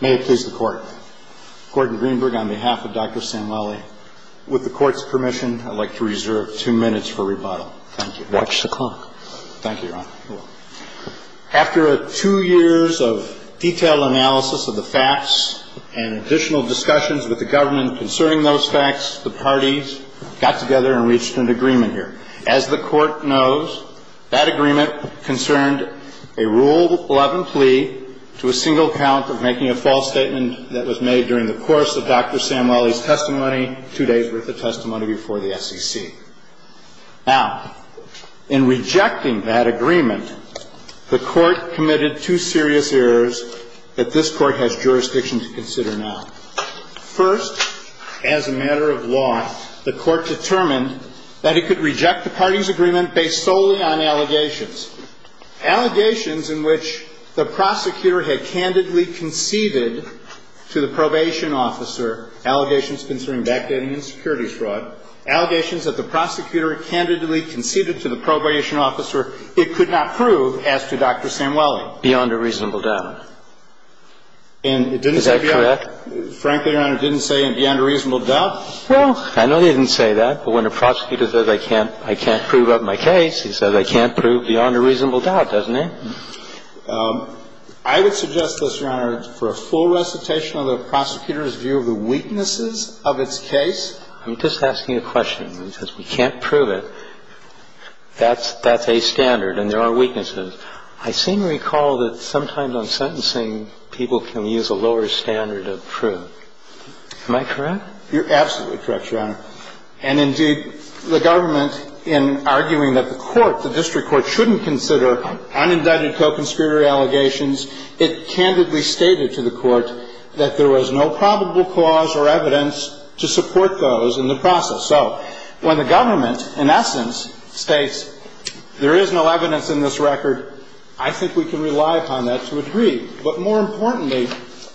May it please the Court. Gordon Greenberg on behalf of Dr. Samueli. With the Court's permission, I'd like to reserve two minutes for rebuttal. Thank you. Watch the clock. Thank you, Your Honor. After two years of detailed analysis of the facts and additional discussions with the government concerning those facts, the parties got together and reached an agreement here. As the Court knows, that agreement concerned a Rule 11 plea to a single count of making a false statement that was made during the course of Dr. Samueli's testimony two days worth of testimony before the SEC. Now, in rejecting that agreement, the Court committed two serious errors that this Court has jurisdiction to consider now. First, as a matter of law, the Court determined that it could reject the parties' agreement based solely on allegations. Allegations in which the prosecutor had candidly conceded to the probation officer allegations concerning backdating and security fraud, allegations that the prosecutor candidly conceded to the probation officer, it could not prove as to Dr. Samueli. Beyond a reasonable doubt. Is that correct? Frankly, Your Honor, it didn't say beyond a reasonable doubt. Well, I know they didn't say that, but when a prosecutor says I can't prove up my case, he says I can't prove beyond a reasonable doubt, doesn't he? I would suggest, Mr. Honor, for a full recitation of the prosecutor's view of the weaknesses of its case. I'm just asking a question. He says we can't prove it. That's a standard, and there are weaknesses. I seem to recall that sometimes on sentencing, people can use a lower standard of proof. Am I correct? You're absolutely correct, Your Honor. And, indeed, the government, in arguing that the court, the district court, shouldn't consider unindicted co-conspirator allegations, it candidly stated to the court that there was no probable cause or evidence to support those in the process. So when the government, in essence, states there is no evidence in this record, I think we can rely upon that to agree. But, more importantly,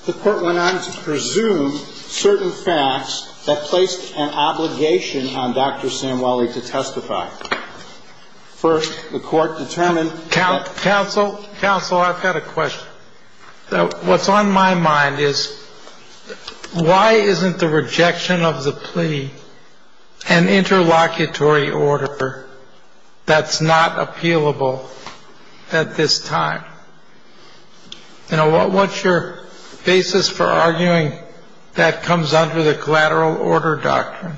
the court went on to presume certain facts that placed an obligation on Dr. Samueli to testify. First, the court determined that. Counsel, counsel, I've got a question. What's on my mind is, why isn't the rejection of the plea an interlocutory order that's not appealable at this time? You know, what's your basis for arguing that comes under the collateral order doctrine?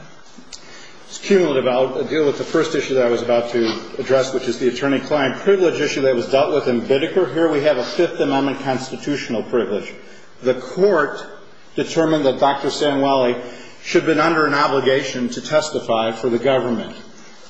It's cumulative. I'll deal with the first issue that I was about to address, which is the attorney-client privilege issue that was dealt with in Bidiker. Here we have a Fifth Amendment constitutional privilege. The court determined that Dr. Samueli should have been under an obligation to testify for the government.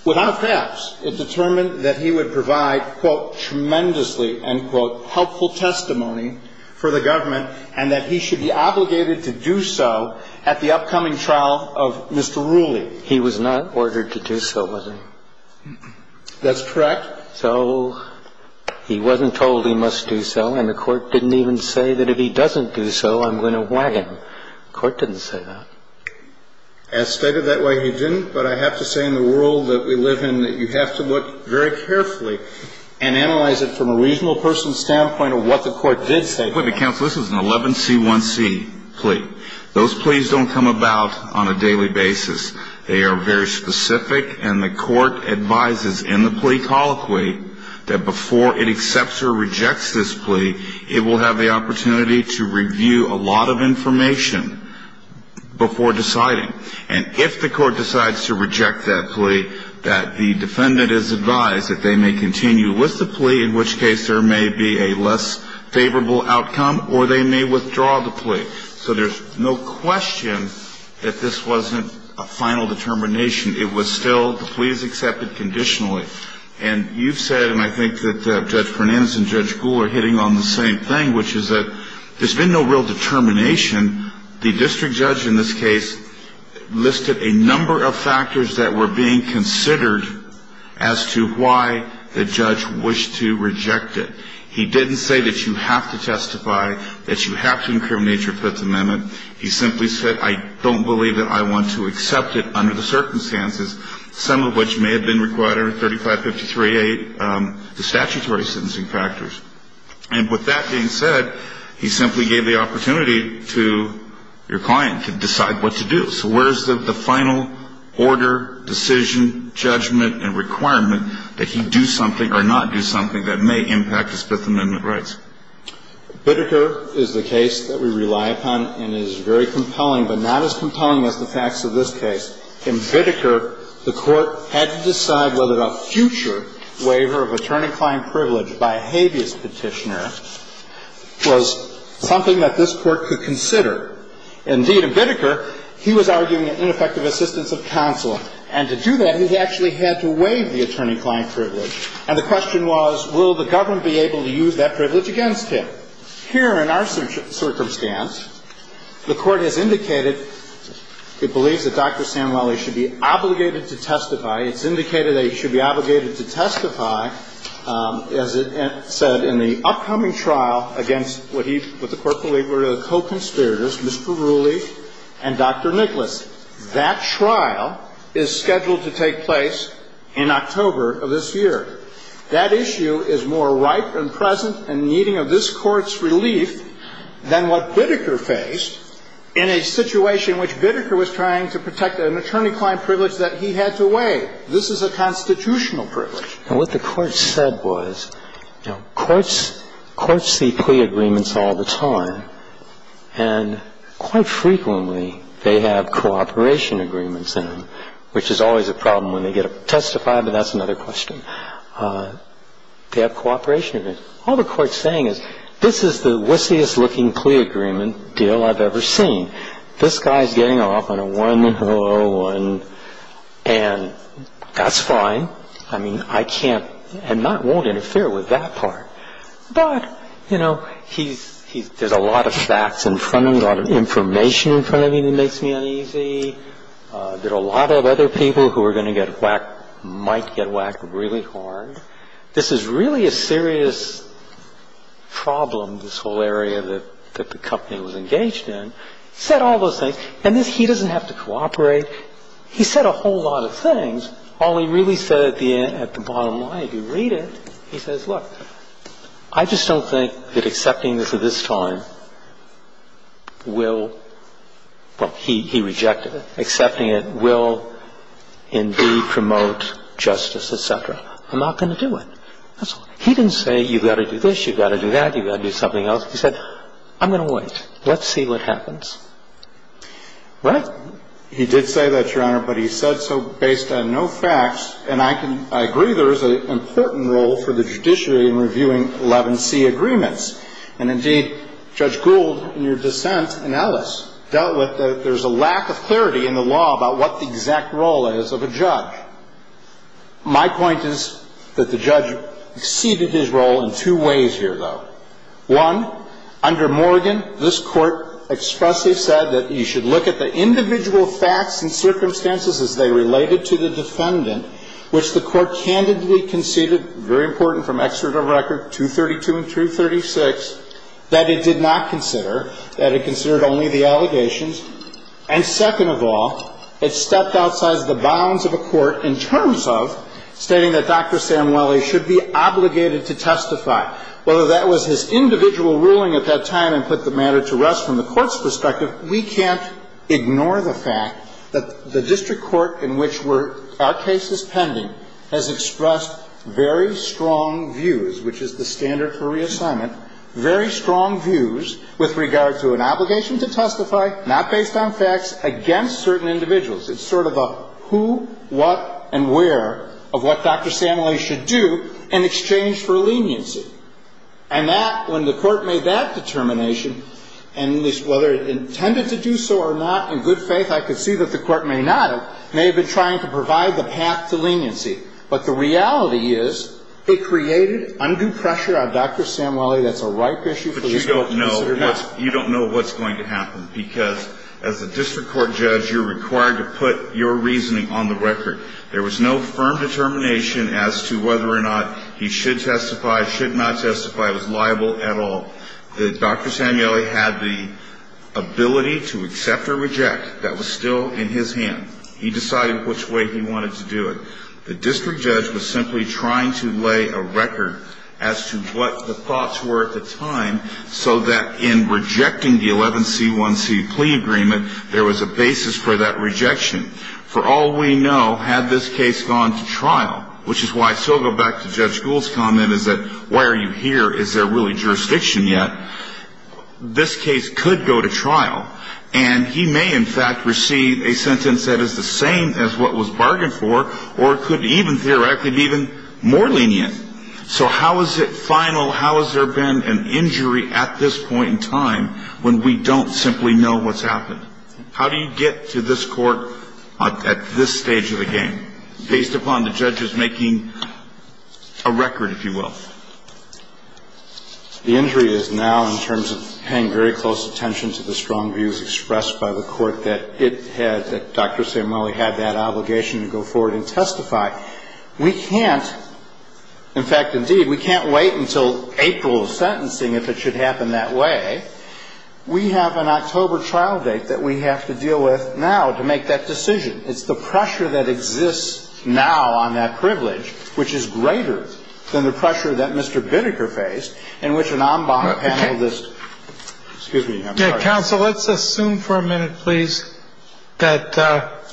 Without fabs, it determined that he would provide, quote, And the court didn't even say that if he doesn't do so, I'm going to whack him. The court didn't say that. As stated, that way, he didn't. But I have to say, in the world that we live in, that you have to look very carefully and analyze it from a reasonable person's standpoint of what the court did say. But, counsel, this is an 11C1C plea. Those pleas don't come about on a daily basis. They are very specific, and the court advises in the plea colloquy that before it accepts or rejects this plea, it will have the opportunity to review a lot of information before deciding. And if the court decides to reject that plea, that the defendant is advised that they may continue with the plea, in which case there may be a less favorable outcome, or they may withdraw the plea. So there's no question that this wasn't a final determination. It was still the plea is accepted conditionally. And you've said, and I think that Judge Fernandez and Judge Gould are hitting on the same thing, which is that there's been no real determination. The district judge in this case listed a number of factors that were being considered as to why the judge wished to reject it. He didn't say that you have to testify, that you have to incriminate your Fifth Amendment. He simply said, I don't believe that I want to accept it under the circumstances, some of which may have been required under 3553A, the statutory sentencing factors. And with that being said, he simply gave the opportunity to your client to decide what to do. So where's the final order, decision, judgment, and requirement that he do something or not do something that may impact his Fifth Amendment rights? Biddeker is the case that we rely upon and is very compelling, but not as compelling as the facts of this case. In Biddeker, the Court had to decide whether a future waiver of attorney-client privilege by a habeas petitioner was something that this Court could consider. Indeed, in Biddeker, he was arguing an ineffective assistance of counsel. And to do that, he actually had to waive the attorney-client privilege. And the question was, will the government be able to use that privilege against him? Here in our circumstance, the Court has indicated it believes that Dr. Sanwelly should be obligated to testify. It's indicated that he should be obligated to testify, as it said, in the upcoming trial against what the Court believed were the co-conspirators, Mr. Rooley and Dr. Nicholas. That trial is scheduled to take place in October of this year. That issue is more ripe and present and needing of this Court's relief than what Biddeker faced in a situation in which Biddeker was trying to protect an attorney-client privilege that he had to waive. This is a constitutional privilege. And what the Court said was, you know, courts see plea agreements all the time, and quite frequently they have cooperation agreements in them, which is always a problem when they get to testify, but that's another question. They have cooperation agreements. All the Court's saying is, this is the wistiest-looking plea agreement deal I've ever seen. This guy's getting off on a 101, and that's fine. I mean, I can't and won't interfere with that part. But, you know, there's a lot of facts in front of him, a lot of information in front of him that makes me uneasy. There are a lot of other people who are going to get whacked, might get whacked really hard. This is really a serious problem, this whole area that the company was engaged in. He said all those things. And he doesn't have to cooperate. He said a whole lot of things. All he really said at the end, at the bottom line, if you read it, he says, look, I just don't think that accepting this at this time will – well, he rejected it. Accepting it will indeed promote justice, et cetera. I'm not going to do it. That's all. He didn't say, you've got to do this, you've got to do that, you've got to do something else. He said, I'm going to wait. Let's see what happens. What? He did say that, Your Honor, but he said so based on no facts. And I can – I agree there is an important role for the judiciary in reviewing 11C agreements. And indeed, Judge Gould, in your dissent, and Ellis dealt with that there's a lack of clarity in the law about what the exact role is of a judge. My point is that the judge exceeded his role in two ways here, though. One, under Morgan, this Court expressly said that you should look at the individual facts and circumstances as they related to the defendant, which the Court candidly conceded, very important from excerpt of record, 232 and 236, that it did not consider, that it considered only the allegations. And second of all, it stepped outside the bounds of a court in terms of stating that Dr. Samueli should be obligated to testify, whether that was his individual ruling at that time and put the matter to rest from the court's perspective. We can't ignore the fact that the district court in which we're – our case is pending has expressed very strong views, which is the standard for reassignment, very strong views with regard to an obligation to testify, not based on facts, against certain individuals. It's sort of a who, what, and where of what Dr. Samueli should do in exchange for leniency. And that, when the Court made that determination, and whether it intended to do so or not, in good faith, I could see that the Court may not have – may have been trying to provide the path to leniency. But the reality is it created undue pressure on Dr. Samueli. That's a ripe issue for this Court to consider now. You don't know what's going to happen because, as a district court judge, you're required to put your reasoning on the record. There was no firm determination as to whether or not he should testify, should not testify. It was liable at all. Dr. Samueli had the ability to accept or reject. That was still in his hand. He decided which way he wanted to do it. The district judge was simply trying to lay a record as to what the thoughts were at the time, so that in rejecting the 11C1C plea agreement, there was a basis for that rejection. For all we know, had this case gone to trial, which is why I still go back to Judge Gould's comment, is that why are you here? Is there really jurisdiction yet? This case could go to trial. And he may, in fact, receive a sentence that is the same as what was bargained for or could even theoretically be even more lenient. So how is it final? How has there been an injury at this point in time when we don't simply know what's happened? How do you get to this Court at this stage of the game, based upon the judges making a record, if you will? The injury is now, in terms of paying very close attention to the strong views expressed by the Court, that it had, that Dr. Samueli had that obligation to go forward and testify. We can't, in fact, indeed, we can't wait until April of sentencing if it should happen that way. We have an October trial date that we have to deal with now to make that decision. It's the pressure that exists now on that privilege, which is greater than the pressure that Mr. Bideker faced, in which an en banc panelist, excuse me, I'm sorry. Counsel, let's assume for a minute, please, that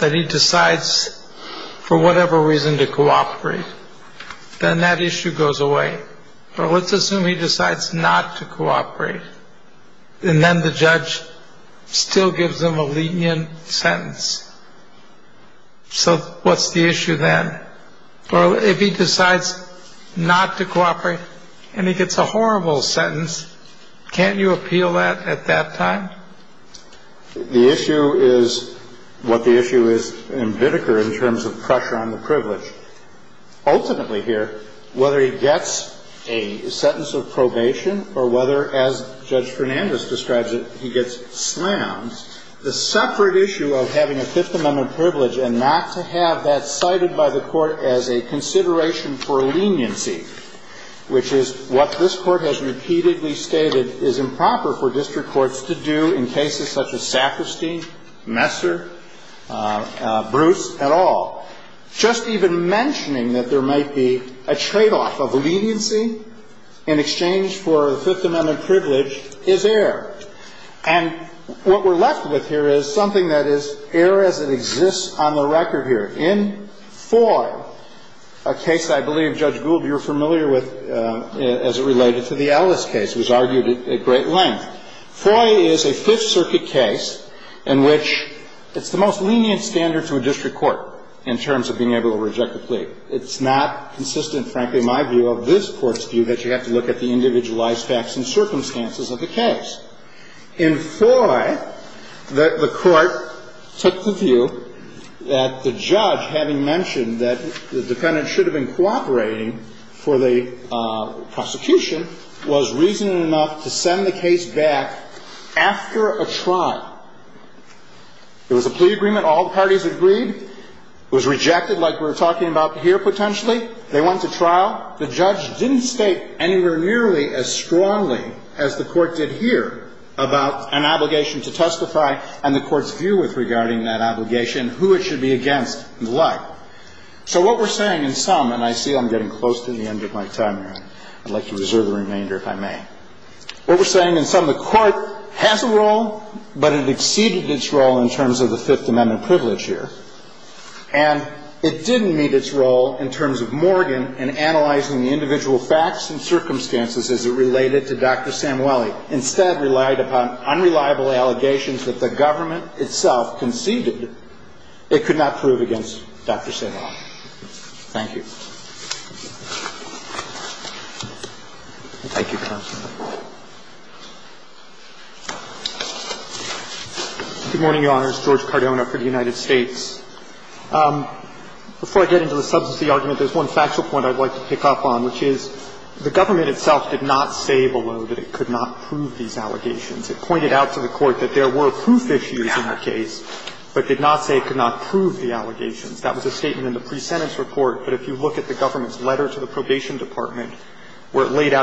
he decides for whatever reason to cooperate. Then that issue goes away. Well, let's assume he decides not to cooperate. And then the judge still gives him a lenient sentence. So what's the issue then? Well, if he decides not to cooperate and he gets a horrible sentence, can't you appeal that at that time? The issue is what the issue is in Bideker in terms of pressure on the privilege. Ultimately here, whether he gets a sentence of probation or whether, as Judge Fernandez describes it, he gets slammed, the separate issue of having a Fifth Amendment privilege and not to have that cited by the Court as a consideration for leniency, which is what this Court has repeatedly stated is improper for district courts to do in cases such as Saperstein, Messer, Bruce, et al., just even mentioning that there might be a tradeoff of leniency in exchange for a Fifth Amendment privilege is air. And what we're left with here is something that is air as it exists on the record here. In Foy, a case I believe, Judge Gould, you're familiar with as it related to the Ellis case, was argued at great length. Foy is a Fifth Circuit case in which it's the most lenient standard to a district court in terms of being able to reject a plea. It's not consistent, frankly, my view of this Court's view that you have to look at the individualized facts and circumstances of the case. In Foy, the Court took the view that the judge, having mentioned that the dependent should have been cooperating for the prosecution, was reason enough to send the case back after a trial. It was a plea agreement. All the parties agreed. It was rejected like we're talking about here potentially. They went to trial. The judge didn't state anywhere nearly as strongly as the Court did here about an obligation to testify and the Court's view with regarding that obligation, who it should be against and the like. So what we're saying in sum, and I see I'm getting close to the end of my time here. I'd like to reserve the remainder if I may. What we're saying in sum, the Court has a role, but it exceeded its role in terms of the Fifth Amendment privilege here. And it didn't meet its role in terms of Morgan in analyzing the individual facts and circumstances as it related to Dr. Samueli. Instead, relied upon unreliable allegations that the government itself conceded it could not prove these allegations. And that's what we're arguing here. We're arguing that the government itself did not say below that it could not prove these allegations. It pointed out to the Court that there were proof issues in the case, but did not say Thank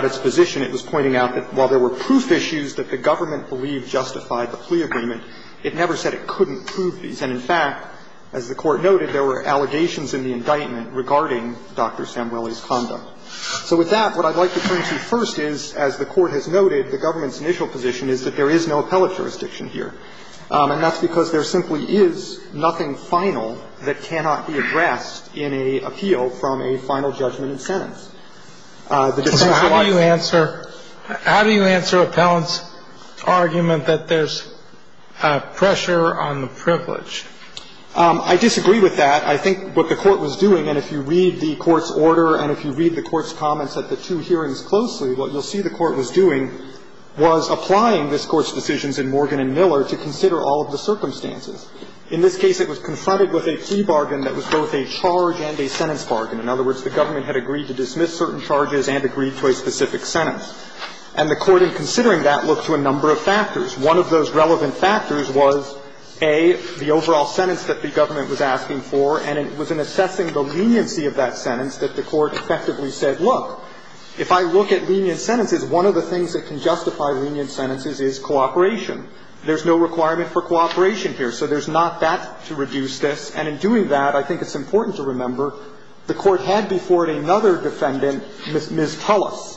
you. And in fact, as the Court noted, there were allegations in the indictment regarding Dr. Samueli's conduct. So with that, what I'd like to turn to first is, as the Court has noted, the government's initial position is that there is no appellate jurisdiction here. And that's because there simply is nothing final that can be found in the indictment that cannot be addressed in an appeal from a final judgment and sentence. The decision for life. So how do you answer appellant's argument that there's pressure on the privilege? I disagree with that. I think what the Court was doing, and if you read the Court's order and if you read the Court's comments at the two hearings closely, what you'll see the Court was doing was applying this Court's decisions in Morgan and Miller to consider all of the circumstances. In this case, it was confronted with a plea bargain that was both a charge and a sentence bargain. In other words, the government had agreed to dismiss certain charges and agreed to a specific sentence. And the Court, in considering that, looked to a number of factors. One of those relevant factors was, A, the overall sentence that the government was asking for, and it was in assessing the leniency of that sentence that the Court effectively said, look, if I look at lenient sentences, one of the things that can justify lenient sentences is cooperation. There's no requirement for cooperation here. So there's not that to reduce this. And in doing that, I think it's important to remember the Court had before it another defendant, Ms. Tullis,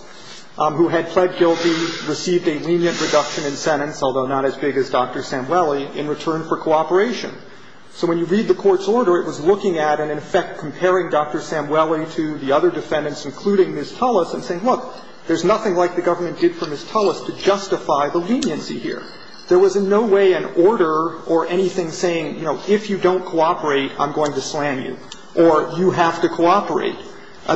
who had pled guilty, received a lenient reduction in sentence, although not as big as Dr. Samueli, in return for cooperation. So when you read the Court's order, it was looking at and, in effect, comparing Dr. Samueli to the other defendants, including Ms. Tullis, and saying, look, there's nothing like the government did for Ms. Tullis to justify the leniency here. There was in no way an order or anything saying, you know, if you don't cooperate, I'm going to slam you, or you have to cooperate.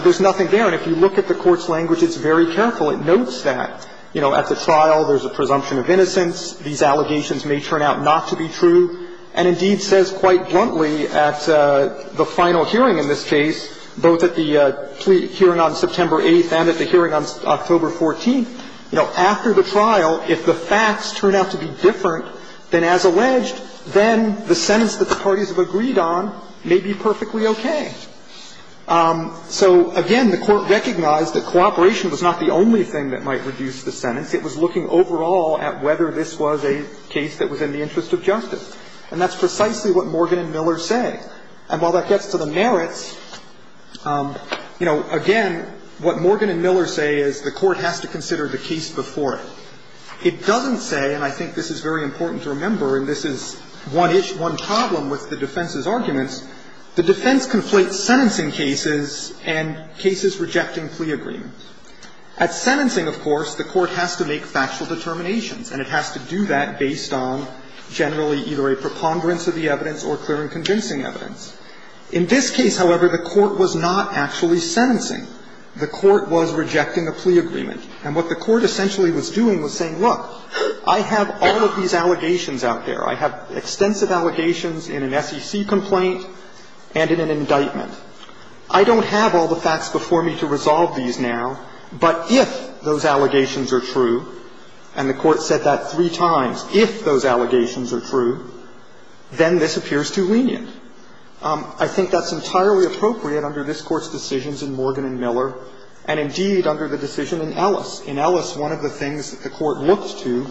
There's nothing there. And if you look at the Court's language, it's very careful. It notes that, you know, at the trial, there's a presumption of innocence. These allegations may turn out not to be true. And, indeed, says quite bluntly at the final hearing in this case, both at the hearing on September 8th and at the hearing on October 14th, you know, after the trial, if the sentence doesn't have to be different than as alleged, then the sentence that the parties have agreed on may be perfectly okay. So, again, the Court recognized that cooperation was not the only thing that might reduce the sentence. It was looking overall at whether this was a case that was in the interest of justice. And that's precisely what Morgan and Miller say. And while that gets to the merits, you know, again, what Morgan and Miller say is the defense doesn't say, and I think this is very important to remember, and this is one problem with the defense's arguments, the defense conflates sentencing cases and cases rejecting plea agreements. At sentencing, of course, the Court has to make factual determinations, and it has to do that based on generally either a preponderance of the evidence or clear and convincing evidence. In this case, however, the Court was not actually sentencing. The Court was rejecting a plea agreement. And what the Court essentially was doing was saying, look, I have all of these allegations out there. I have extensive allegations in an SEC complaint and in an indictment. I don't have all the facts before me to resolve these now, but if those allegations are true, and the Court said that three times, if those allegations are true, then this appears too lenient. I think that's entirely appropriate under this Court's decisions in Morgan and Miller and, indeed, under the decision in Ellis. In Ellis, one of the things that the Court looked to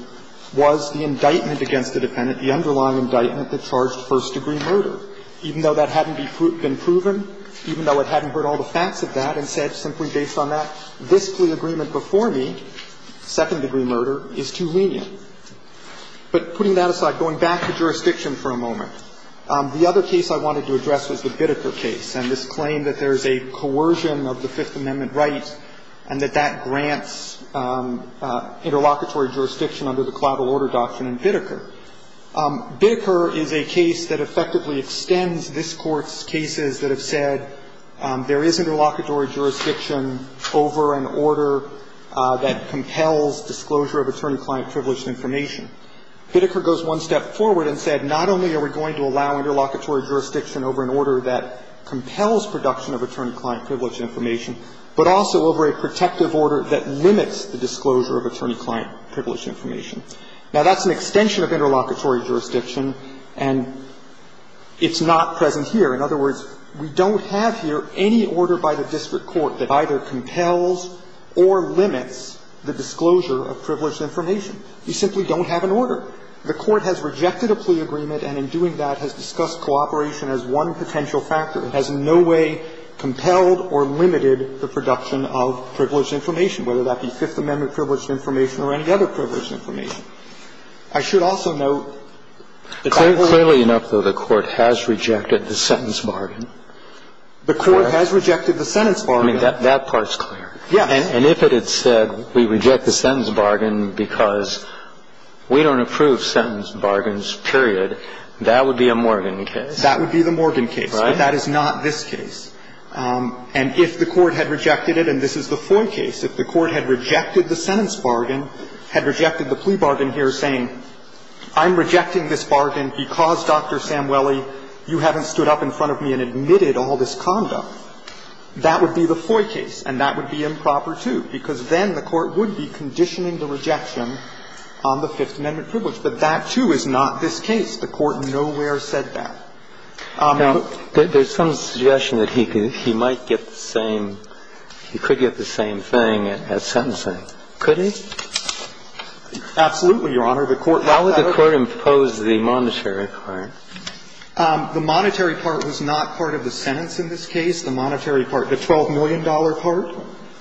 was the indictment against the dependent, the underlying indictment that charged first-degree murder, even though that hadn't been proven, even though it hadn't heard all the facts of that and said, simply based on that, this plea agreement before me, second-degree murder, is too lenient. But putting that aside, going back to jurisdiction for a moment, the other case I wanted to address was the Bitteker case and this claim that there's a coercion of the Fifth Amendment right and that that grants interlocutory jurisdiction under the collateral order doctrine in Bitteker. Bitteker is a case that effectively extends this Court's cases that have said there is interlocutory jurisdiction over an order that compels disclosure of attorney-client privileged information. Bitteker goes one step forward and said, not only are we going to allow interlocutory jurisdiction over an order that compels production of attorney-client privileged information, but also over a protective order that limits the disclosure of attorney-client privileged information. Now, that's an extension of interlocutory jurisdiction, and it's not present here. In other words, we don't have here any order by the district court that either compels or limits the disclosure of privileged information. We simply don't have an order. The Court has rejected a plea agreement and in doing that has discussed cooperation as one potential factor. It has in no way compelled or limited the production of privileged information, whether that be Fifth Amendment privileged information or any other privileged information. I should also note, clearly enough, though, the Court has rejected the sentence bargain. The Court has rejected the sentence bargain. I mean, that part's clear. Yes. And if it had said we reject the sentence bargain because we don't approve sentence bargains, period, that would be a Morgan case. That would be the Morgan case, but that is not this case. And if the Court had rejected it, and this is the Foy case, if the Court had rejected the sentence bargain, had rejected the plea bargain here saying I'm rejecting this bargain because, Dr. Samueli, you haven't stood up in front of me and admitted all this conduct, that would be the Foy case and that would be improper, too, because then the Court would be conditioning the rejection on the Fifth Amendment privilege. But that, too, is not this case. The Court nowhere said that. Now, there's some suggestion that he might get the same, he could get the same thing at sentencing. Could he? Absolutely, Your Honor. The Court lacked that authority. How would the Court impose the monetary part? The monetary part was not part of the sentence in this case, the monetary part. The $12 million part?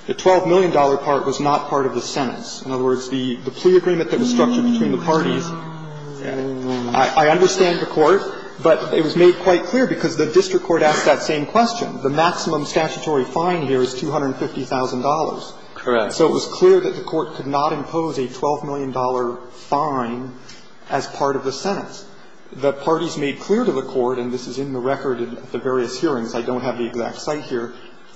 The $12 million part was not part of the sentence. In other words, the plea agreement that was structured between the parties. I understand the Court, but it was made quite clear because the district court asked that same question. The maximum statutory fine here is $250,000. Correct. So it was clear that the Court could not impose a $12 million fine as part of the sentence. The parties made clear to the Court, and this is in the record at the various hearings, I don't have the exact site here,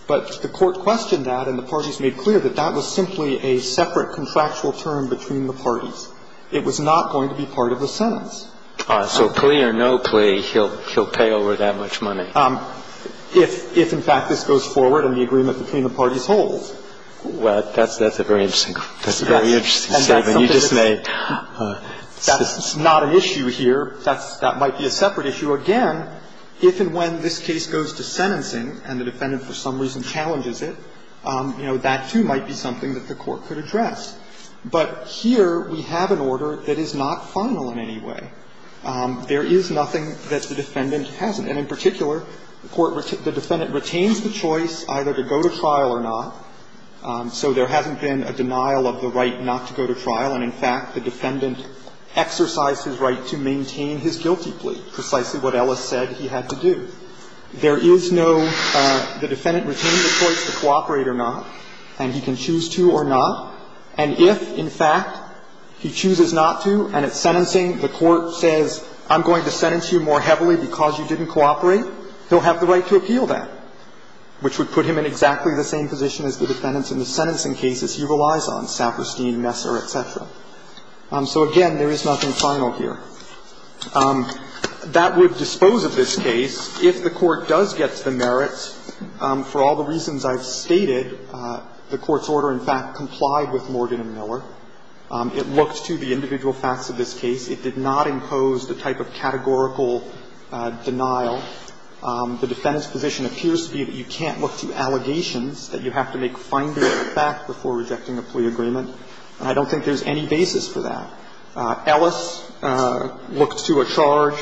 but the Court questioned that and the parties made clear that that was simply a separate contractual term between the parties. It was not going to be part of the sentence. So plea or no plea, he'll pay over that much money. If, in fact, this goes forward and the agreement between the parties holds. Well, that's a very interesting statement. You just made. That's not an issue here. That might be a separate issue. Again, if and when this case goes to sentencing and the defendant for some reason challenges it, you know, that, too, might be something that the Court could address. But here we have an order that is not final in any way. There is nothing that the defendant hasn't. And in particular, the defendant retains the choice either to go to trial or not. So there hasn't been a denial of the right not to go to trial. And, in fact, the defendant exercised his right to maintain his guilty plea, precisely what Ellis said he had to do. There is no the defendant retaining the choice to cooperate or not, and he can choose to or not. And if, in fact, he chooses not to and it's sentencing, the Court says, I'm going to sentence you more heavily because you didn't cooperate, he'll have the right to appeal that, which would put him in exactly the same position as the defendants in the sentencing cases he relies on, Saperstein, Messer, et cetera. So, again, there is nothing final here. That would dispose of this case. If the Court does get to the merits, for all the reasons I've stated, the Court's order, in fact, complied with Morgan and Miller. It looked to the individual facts of this case. It did not impose the type of categorical denial. The defendant's position appears to be that you can't look to allegations, that you have to make finding of the fact before rejecting a plea agreement. And I don't think there's any basis for that. Ellis looked to a charge.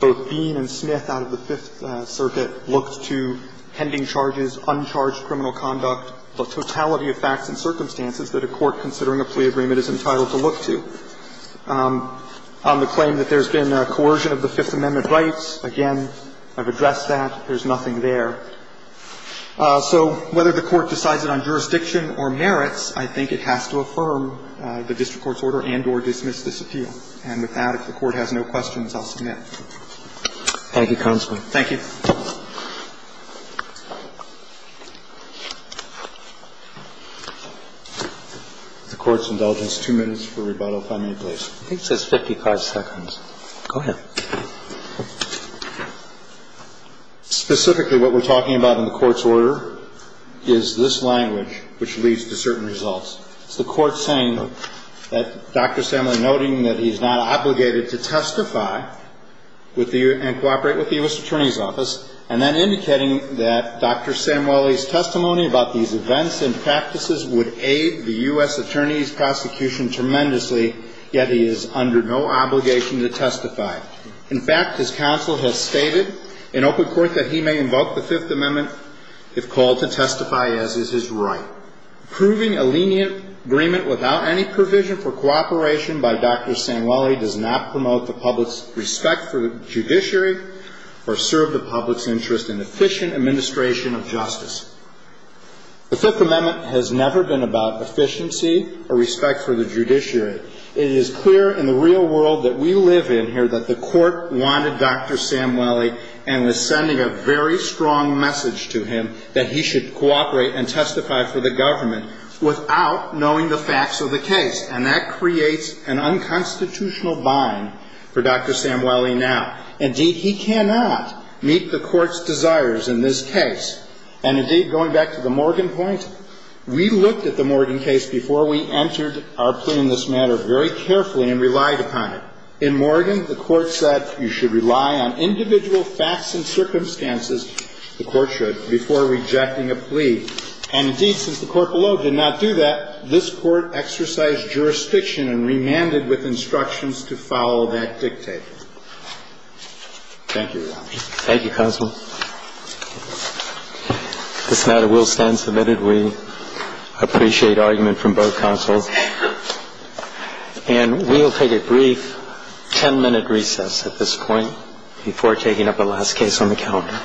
Both Bean and Smith out of the Fifth Circuit looked to pending charges, uncharged criminal conduct, the totality of facts and circumstances that a court considering a plea agreement is entitled to look to. On the claim that there's been coercion of the Fifth Amendment rights, again, I've addressed that. There's nothing there. So whether the Court decides it on jurisdiction or merits, I think it has to affirm the district court's order and or dismiss this appeal. And with that, if the Court has no questions, I'll submit. Thank you, counsel. Thank you. The Court's indulgence, two minutes for rebuttal, if I may, please. I think it says 55 seconds. Go ahead. Specifically, what we're talking about in the Court's order is this language, which leads to certain results. It's the Court saying that Dr. Sandler, noting that he's not obligated to testify and cooperate with the U.S. Attorney's Office, and then indicating that Dr. Samueli's testimony about these events and practices would aid the U.S. Attorney's prosecution tremendously, yet he is under no obligation to testify. In fact, his counsel has stated in open court that he may invoke the Fifth Amendment if called to testify, as is his right. Proving a lenient agreement without any provision for cooperation by Dr. Samueli, the Fifth Amendment has never been about efficiency or respect for the judiciary. It is clear in the real world that we live in here that the Court wanted Dr. Samueli and was sending a very strong message to him that he should cooperate and testify for the government without knowing the facts of the case. And indeed, he cannot meet the Court's desires in this case. And indeed, going back to the Morgan point, we looked at the Morgan case before we entered our plea in this matter very carefully and relied upon it. In Morgan, the Court said you should rely on individual facts and circumstances the Court should before rejecting a plea. And indeed, since the Court below did not do that, this Court exercised jurisdiction and remanded with instructions to follow that dictate. Thank you, Your Honor. Thank you, Counsel. This matter will stand submitted. We appreciate argument from both counsels. And we'll take a brief 10-minute recess at this point before taking up the last case on the calendar. All rise.